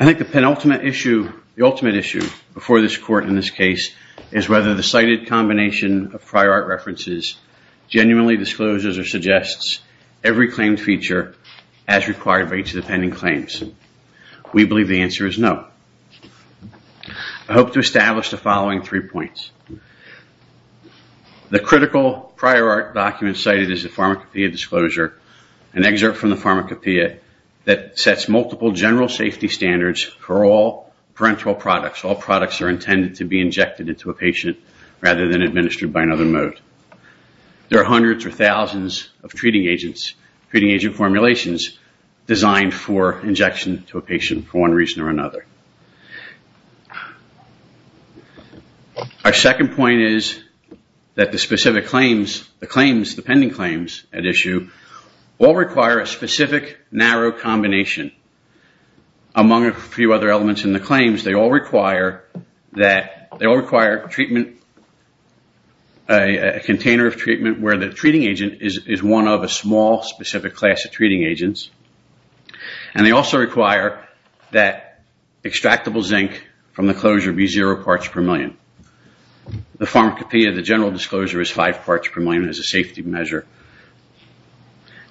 I think the penultimate issue before this court in this case is whether the cited combination of prior art references genuinely discloses or suggests every claimed feature as required by each of the pending claims. We believe the answer is no. I hope to establish the following three points. The critical prior art document cited is a pharmacopoeia disclosure, an excerpt from the pharmacopoeia that sets multiple general safety standards for all parental products. All products are intended to be injected into a patient rather than administered by another mode. There are hundreds or thousands of treating agents, treating agent formulations designed for injection to a patient for one reason or another. Our second point is that the specific claims, the pending claims at issue, all require a specific narrow combination among a few other elements in the claims. They all require treatment, a container of treatment where the treating agent is one of a small specific class of treating agents and they also require that extractable zinc from the closure be zero parts per million. The pharmacopoeia, the general disclosure is five parts per million as a safety measure.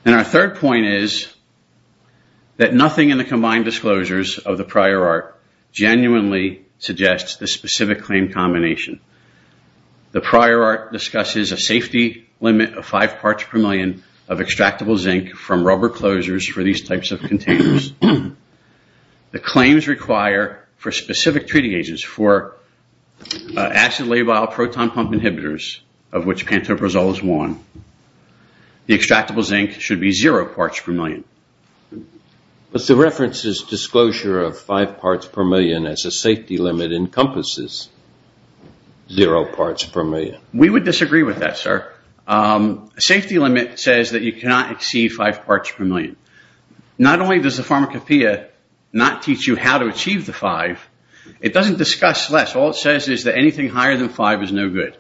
And our third point is that nothing in the combined disclosures of the prior art genuinely suggests the specific claim combination. The prior art discusses a safety limit of five parts per million of extractable zinc from rubber closures for these types of containers. The claims require for specific treating agents for acid labile proton pump inhibitors of which Pantoprazole is one. The extractable zinc should be zero parts per million. But the reference is disclosure of five parts per million as a safety limit encompasses zero parts per million. We would disagree with that, sir. Safety limit says that you cannot exceed five parts per million. Not only does the pharmacopoeia not teach you how to achieve the five, it doesn't discuss less. All it says is that anything higher than five is no good.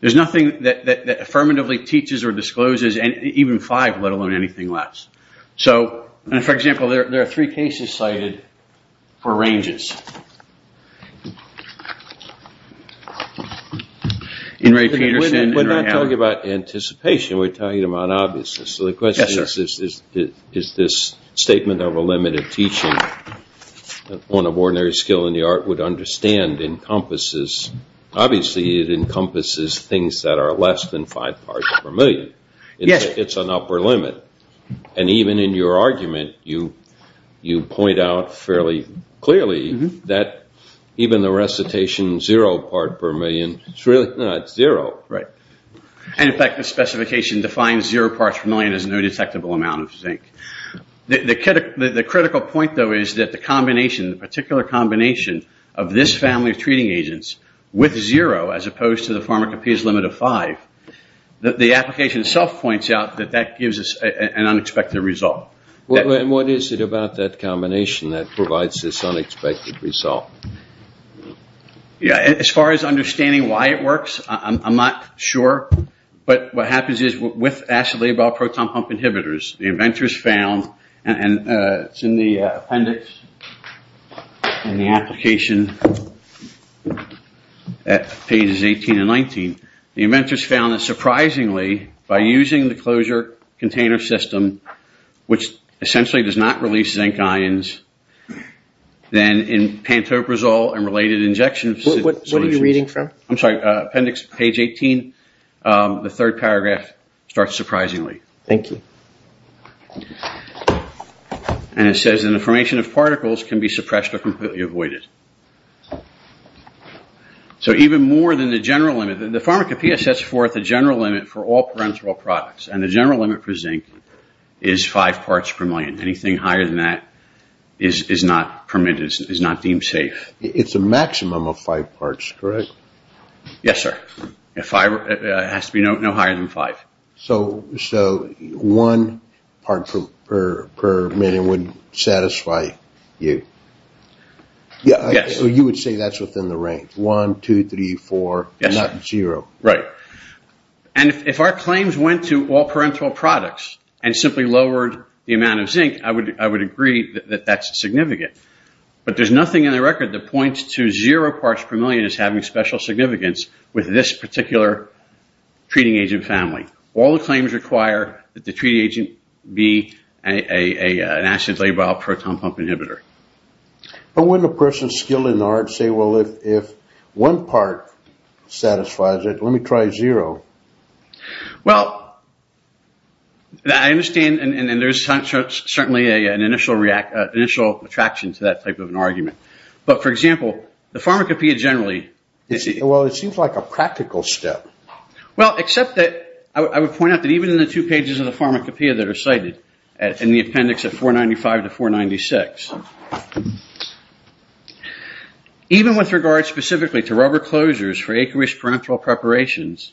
There's nothing that affirmatively teaches or discloses even five, let alone anything less. So, for example, there are three cases cited for ranges. In Ray Peterson and Ray Howard. We're not talking about anticipation, we're talking about obviousness. So the question is, is this statement of a limit of teaching on an ordinary skill in the art would understand encompasses. Obviously, it encompasses things that are less than five parts per million. It's an upper limit. And even in your argument, you point out fairly clearly that even the recitation zero part per million, it's really not zero. Right. And in fact, the specification defines zero parts per million as no detectable amount of zinc. The critical point, though, is that the combination, the particular combination of this family of treating agents with zero as opposed to the pharmacopoeia's limit of five, the application itself points out that that gives us an unexpected result. What is it about that combination that provides this unexpected result? As far as understanding why it works, I'm not sure. But what happens is with acetabol proton pump inhibitors, the inventors found and it's in the appendix in the application at pages 18 and 19, the inventors found that surprisingly by using the closure container system, which essentially does not release zinc ions, then in Pantoprazole and related injections... What are you reading from? I'm sorry. Appendix, page 18, the third paragraph starts surprisingly. Thank you. And it says in the formation of particles can be suppressed or completely avoided. So even more than the general limit, the pharmacopoeia sets forth a general limit for all Pantoprazole products and the general limit for zinc is five parts per million. Anything higher than that is not permitted, is not deemed safe. It's a maximum of five parts, correct? Yes, sir. It has to be no higher than five. So one part per million wouldn't satisfy you? Yes. So you would say that's within the range, one, two, three, four, not zero? Right. And if our claims went to all parenteral products and simply lowered the amount of zinc, I would agree that that's significant. But there's nothing in the record that points to zero parts per million as having special significance with this particular treating agent family. All the claims require that the treating agent be an acid labile proton pump inhibitor. But wouldn't a person skilled in the art say, well, if one part satisfies it, let me try zero? Well, I understand and there's certainly an initial attraction to that type of an argument. But for example, the Pharmacopeia generally, well, it seems like a practical step. Well, except that I would point out that even in the two pages of the Pharmacopeia that are cited in the appendix of 495 to 496, even with regard specifically to rubber closures for acreage parenteral preparations,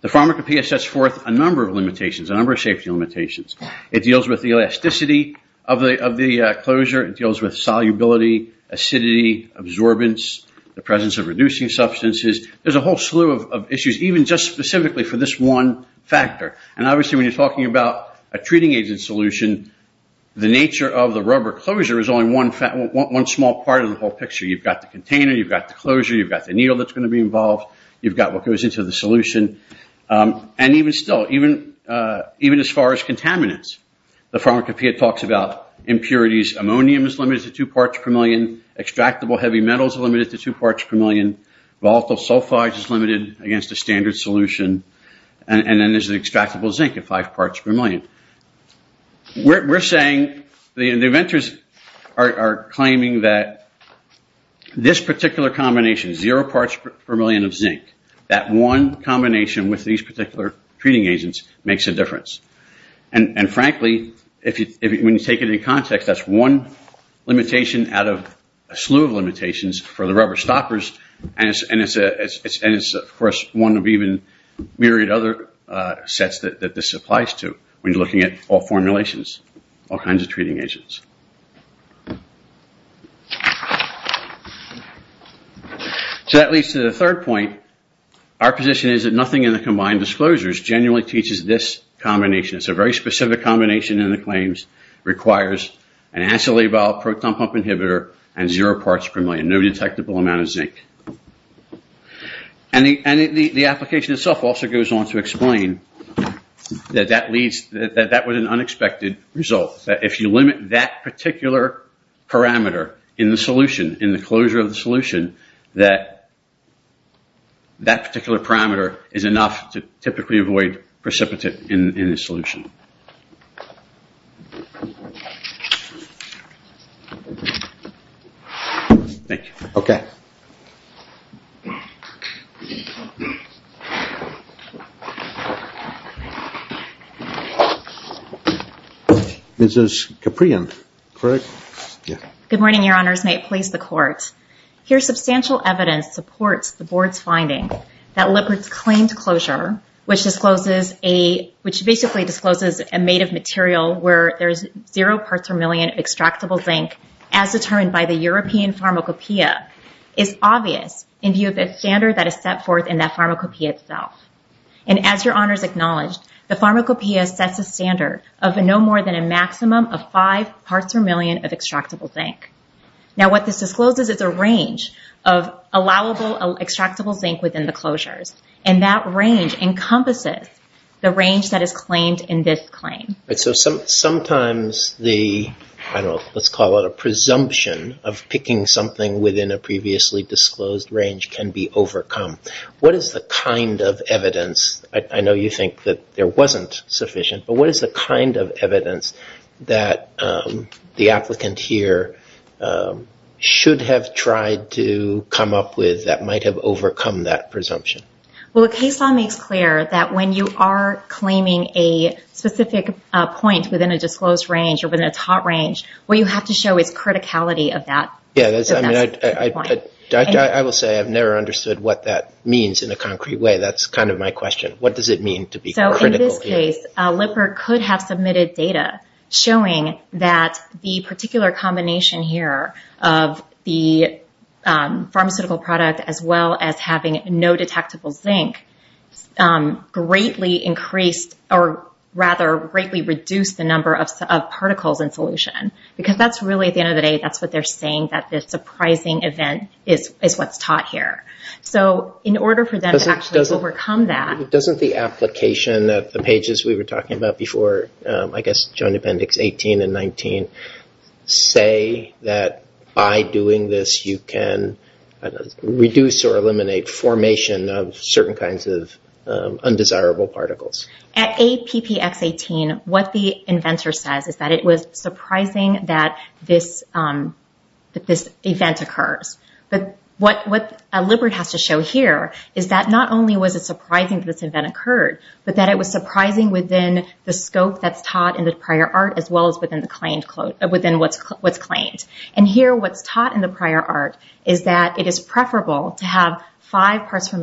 the Pharmacopeia sets forth a number of limitations, a number of safety limitations. It deals with the elasticity of the closure, it deals with solubility, acidity, absorbance, the presence of reducing substances, there's a whole slew of issues even just specifically for this one factor. And obviously when you're talking about a treating agent solution, the nature of the rubber closure is only one small part of the whole picture. You've got the container, you've got the closure, you've got the needle that's going to be involved, you've got what goes into the solution, and even still, even as far as contaminants, the Pharmacopeia talks about impurities, ammonium is limited to two parts per million, extractable heavy metals are limited to two parts per million, volatile sulfides is limited against a standard solution, and then there's the extractable zinc at five parts per million. We're saying, the inventors are claiming that this particular combination, zero parts per million of zinc, that one combination with these particular treating agents makes a difference. And frankly, when you take it in context, that's one limitation out of a slew of limitations for the rubber stoppers, and it's of course one of even myriad other sets that this applies to when you're looking at all formulations, all kinds of treating agents. So that leads to the third point, our position is that nothing in the combined disclosures genuinely teaches this combination, it's a very specific combination in the claims, requires an acetyl-A-viol proton pump inhibitor and zero parts per million, no detectable amount of zinc. And the application itself also goes on to explain that that was an unexpected result, that if you limit that particular parameter in the solution, in the closure of the solution, that that particular parameter is enough to typically avoid precipitate in the solution. Thank you. Okay. Ms. Caprion, correct? Good morning, Your Honors, may it please the Court. Here substantial evidence supports the Board's finding that Lippert's claimed closure, which discloses a, which basically discloses a made of material where there's zero parts per million of extractable zinc, as determined by the European Pharmacopeia, is obviously not a standard that is set forth in that pharmacopoeia itself. And as Your Honors acknowledged, the pharmacopoeia sets a standard of no more than a maximum of five parts per million of extractable zinc. Now what this discloses is a range of allowable extractable zinc within the closures, and that range encompasses the range that is claimed in this claim. Sometimes the, let's call it a presumption of picking something within a previously disclosed range can be overcome. What is the kind of evidence, I know you think that there wasn't sufficient, but what is the kind of evidence that the applicant here should have tried to come up with that might have overcome that presumption? Well, a case law makes clear that when you are claiming a specific point within a disclosed range or within a taught range, what you have to show is criticality of that point. Yeah, I will say I've never understood what that means in a concrete way. That's kind of my question. What does it mean to be critical here? So in this case, Lipper could have submitted data showing that the particular combination here of the pharmaceutical product as well as having no detectable zinc greatly increased or rather greatly reduced the number of particles in solution. Because that's really, at the end of the day, that's what they're saying, that this surprising event is what's taught here. So in order for them to actually overcome that... Doesn't the application at the pages we were talking about before, I guess, Joint Appendix 18 and 19, say that by doing this you can reduce or eliminate formation of certain kinds of undesirable particles? At APPX18, what the inventor says is that it was surprising that this event occurs. But what Lipper has to show here is that not only was it surprising that this event occurred, but that it was surprising within the scope that's taught in the prior art as well as within what's claimed. And here what's taught in the prior art is that it is preferable to have five parts per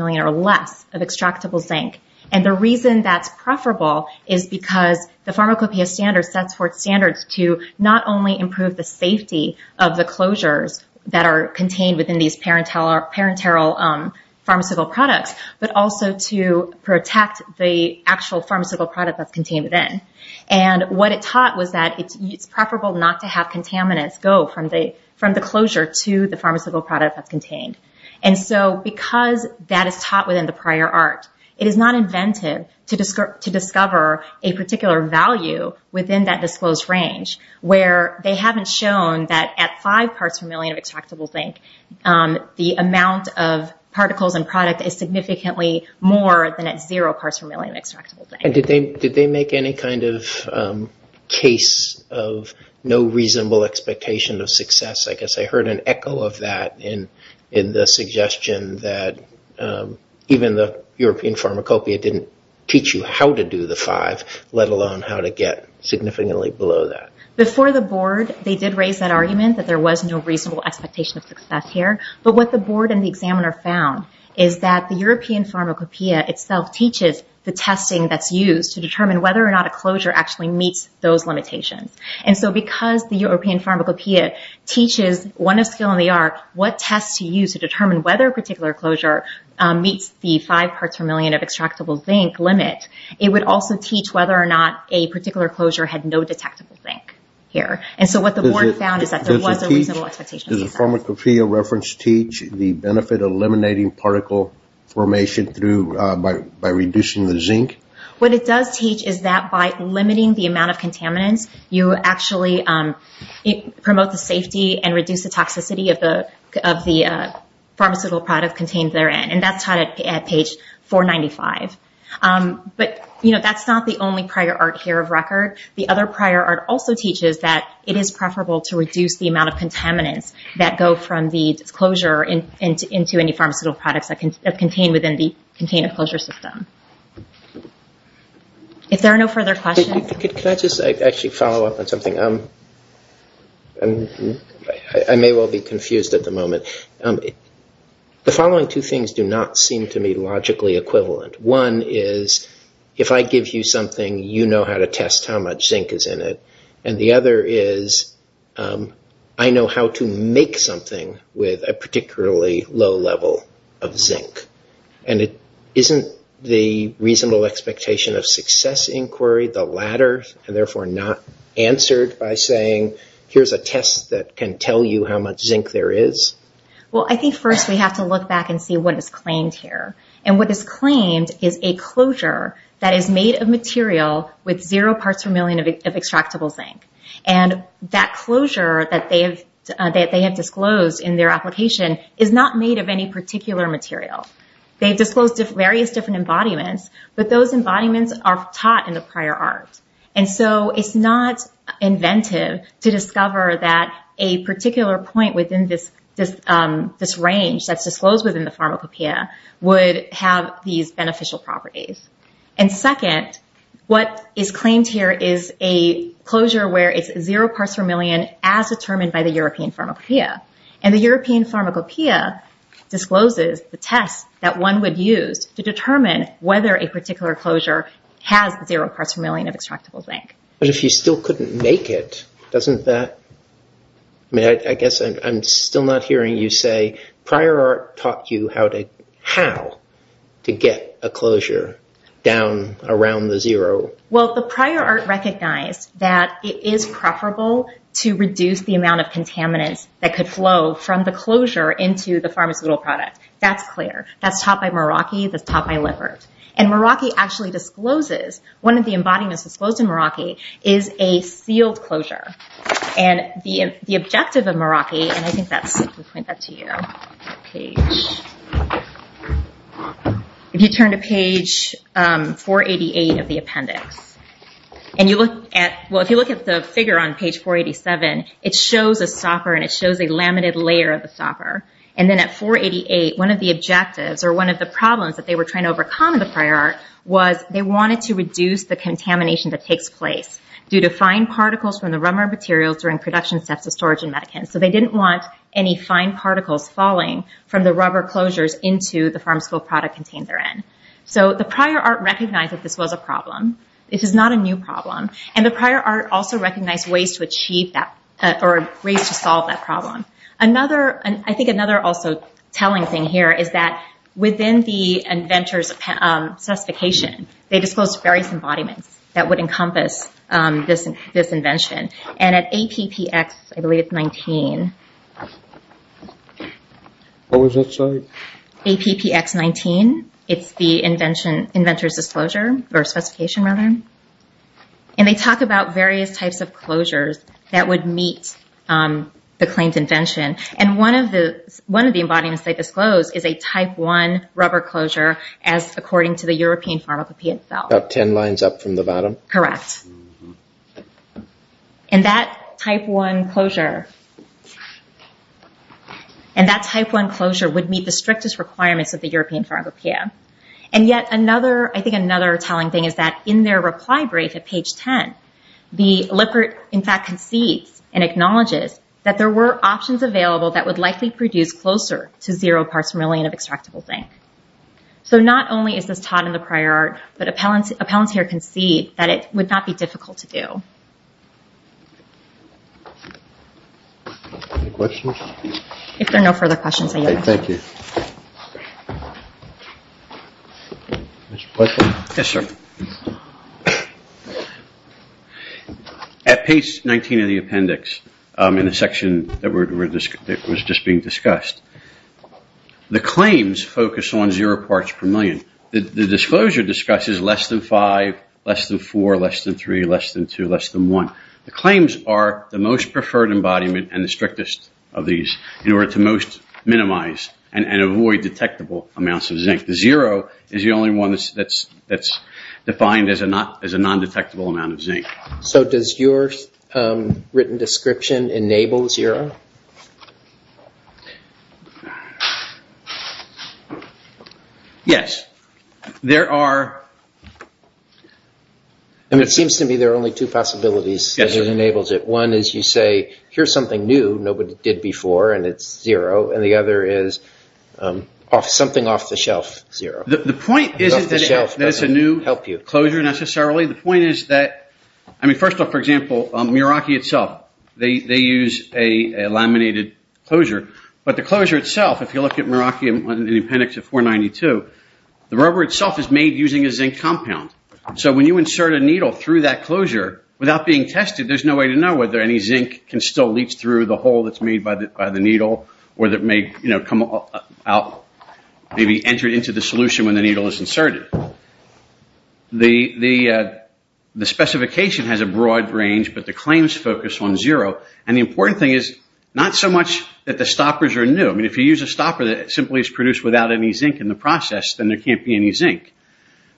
zinc. And the reason that's preferable is because the Pharmacopeia standard sets forth standards to not only improve the safety of the closures that are contained within these parenteral pharmaceutical products, but also to protect the actual pharmaceutical product that's contained within. And what it taught was that it's preferable not to have contaminants go from the closure to the pharmaceutical product that's contained. And so, because that is taught within the prior art, it is not inventive to discover a particular value within that disclosed range where they haven't shown that at five parts per million of extractable zinc, the amount of particles and product is significantly more than at zero parts per million of extractable zinc. Did they make any kind of case of no reasonable expectation of success? I guess I heard an echo of that in the suggestion that even the European Pharmacopeia didn't teach you how to do the five, let alone how to get significantly below that. Before the board, they did raise that argument that there was no reasonable expectation of success here. But what the board and the examiner found is that the European Pharmacopeia itself teaches the testing that's used to determine whether or not a closure actually meets those limitations. And so, because the European Pharmacopeia teaches one of skill in the art what tests to use to determine whether a particular closure meets the five parts per million of extractable zinc limit, it would also teach whether or not a particular closure had no detectable zinc here. And so, what the board found is that there was a reasonable expectation of success. Does the Pharmacopeia reference teach the benefit of eliminating particle formation through by reducing the zinc? What it does teach is that by limiting the amount of contaminants, you actually promote the safety and reduce the toxicity of the pharmaceutical product contained therein. And that's taught at page 495. But, you know, that's not the only prior art here of record. The other prior art also teaches that it is preferable to reduce the amount of contaminants that go from the disclosure into any pharmaceutical products that contain within the containment closure system. If there are no further questions. Could I just actually follow up on something? I may well be confused at the moment. The following two things do not seem to me logically equivalent. One is, if I give you something, you know how to test how much zinc is in it. And the other is, I know how to make something with a particularly low level of zinc. And isn't the reasonable expectation of success inquiry the latter and therefore not answered by saying, here's a test that can tell you how much zinc there is? Well, I think first we have to look back and see what is claimed here. And what is claimed is a closure that is made of material with zero parts per million of extractable zinc. And that closure that they have disclosed in their application is not made of any particular material. They've disclosed various different embodiments, but those embodiments are taught in the prior art. And so it's not inventive to discover that a particular point within this range that's disclosed within the pharmacopeia would have these beneficial properties. And second, what is claimed here is a closure where it's zero parts per million as determined by the European pharmacopeia. And the European pharmacopeia discloses the test that one would use to determine whether a particular closure has zero parts per million of extractable zinc. But if you still couldn't make it, doesn't that, I mean, I guess I'm still not hearing you say prior art taught you how to get a closure down around the zero. Well, the prior art recognized that it is preferable to reduce the amount of contaminants that could flow from the closure into the pharmaceutical product. That's clear. That's taught by Meraki. That's taught by Lippert. And Meraki actually discloses one of the embodiments disclosed in Meraki is a sealed closure. And the objective of Meraki, and I think that's, let me point that to you, if you turn to page 488 of the appendix, and you look at, well, if you look at the figure on page 487, it shows a stopper and it shows a laminated layer of the stopper. And then at 488, one of the objectives or one of the problems that they were trying to overcome in the prior art was they wanted to reduce the contamination that takes place due to fine particles from the rubber materials during production steps of storage and medicants. So they didn't want any fine particles falling from the rubber closures into the pharmaceutical product contained therein. So the prior art recognized that this was a problem. This is not a new problem. And the prior art also recognized ways to achieve that, or ways to solve that problem. Another, I think another also telling thing here is that within the inventor's specification, they disclosed various embodiments that would encompass this invention. And at APPX, I believe it's 19, APPX 19, it's the invention, inventor's disclosure, or specification rather, and they talk about various types of closures that would meet the claimed invention. And one of the embodiments they disclosed is a type one rubber closure as according to the European Pharmacopeia itself. About 10 lines up from the bottom. Correct. And that type one closure, and that type one closure would meet the strictest requirements of the European Pharmacopeia. And yet another, I think another telling thing is that in their reply brief at page 10, the Lippert in fact concedes and acknowledges that there were options available that would likely produce closer to zero parts per million of extractable zinc. So not only is this taught in the prior art, but appellants here concede that it would not be difficult to do. Any questions? If there are no further questions, I yield. Okay, thank you. Mr. Pleasant? Yes, sir. At page 19 of the appendix, in the section that was just being discussed, the claims focus on zero parts per million. The disclosure discusses less than five, less than four, less than three, less than two, less than one. The claims are the most preferred embodiment and the strictest of these in order to most minimize the risk. and avoid detectable amounts of zinc. Zero is the only one that's defined as a non-detectable amount of zinc. So does your written description enable zero? Yes. There are... I mean, it seems to me there are only two possibilities. Yes, sir. It enables it. One is you say, here's something new, nobody did before, and it's zero. And the other is something off the shelf, zero. The point isn't that it's a new closure necessarily. The point is that... I mean, first off, for example, Meraki itself, they use a laminated closure. But the closure itself, if you look at Meraki in appendix 492, the rubber itself is made using a zinc compound. So when you insert a needle through that closure, without being tested, there's no way to know whether any zinc can still leach through the hole that's made by the needle, or that may come out, maybe enter into the solution when the needle is inserted. The specification has a broad range, but the claims focus on zero. And the important thing is not so much that the stoppers are new. I mean, if you use a stopper that simply is produced without any zinc in the process, then there can't be any zinc.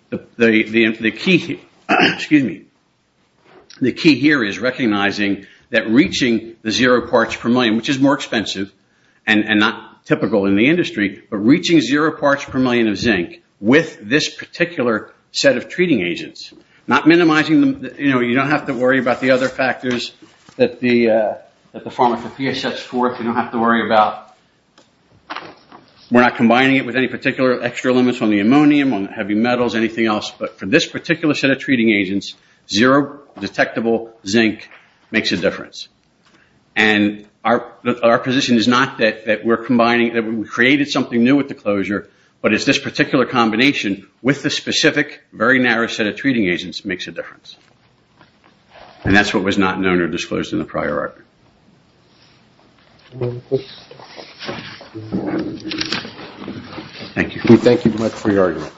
The key here is recognizing that reaching the zero parts per million, which is more expensive and not typical in the industry, but reaching zero parts per million of zinc with this particular set of treating agents, not minimizing the... You don't have to worry about the other factors that the pharmacopoeia sets forth. You don't have to worry about... But for this particular set of treating agents, zero detectable zinc makes a difference. And our position is not that we're combining... That we created something new with the closure, but it's this particular combination with the specific, very narrow set of treating agents makes a difference. And that's what was not known or disclosed in the prior argument. Thank you. We thank you very much for your argument.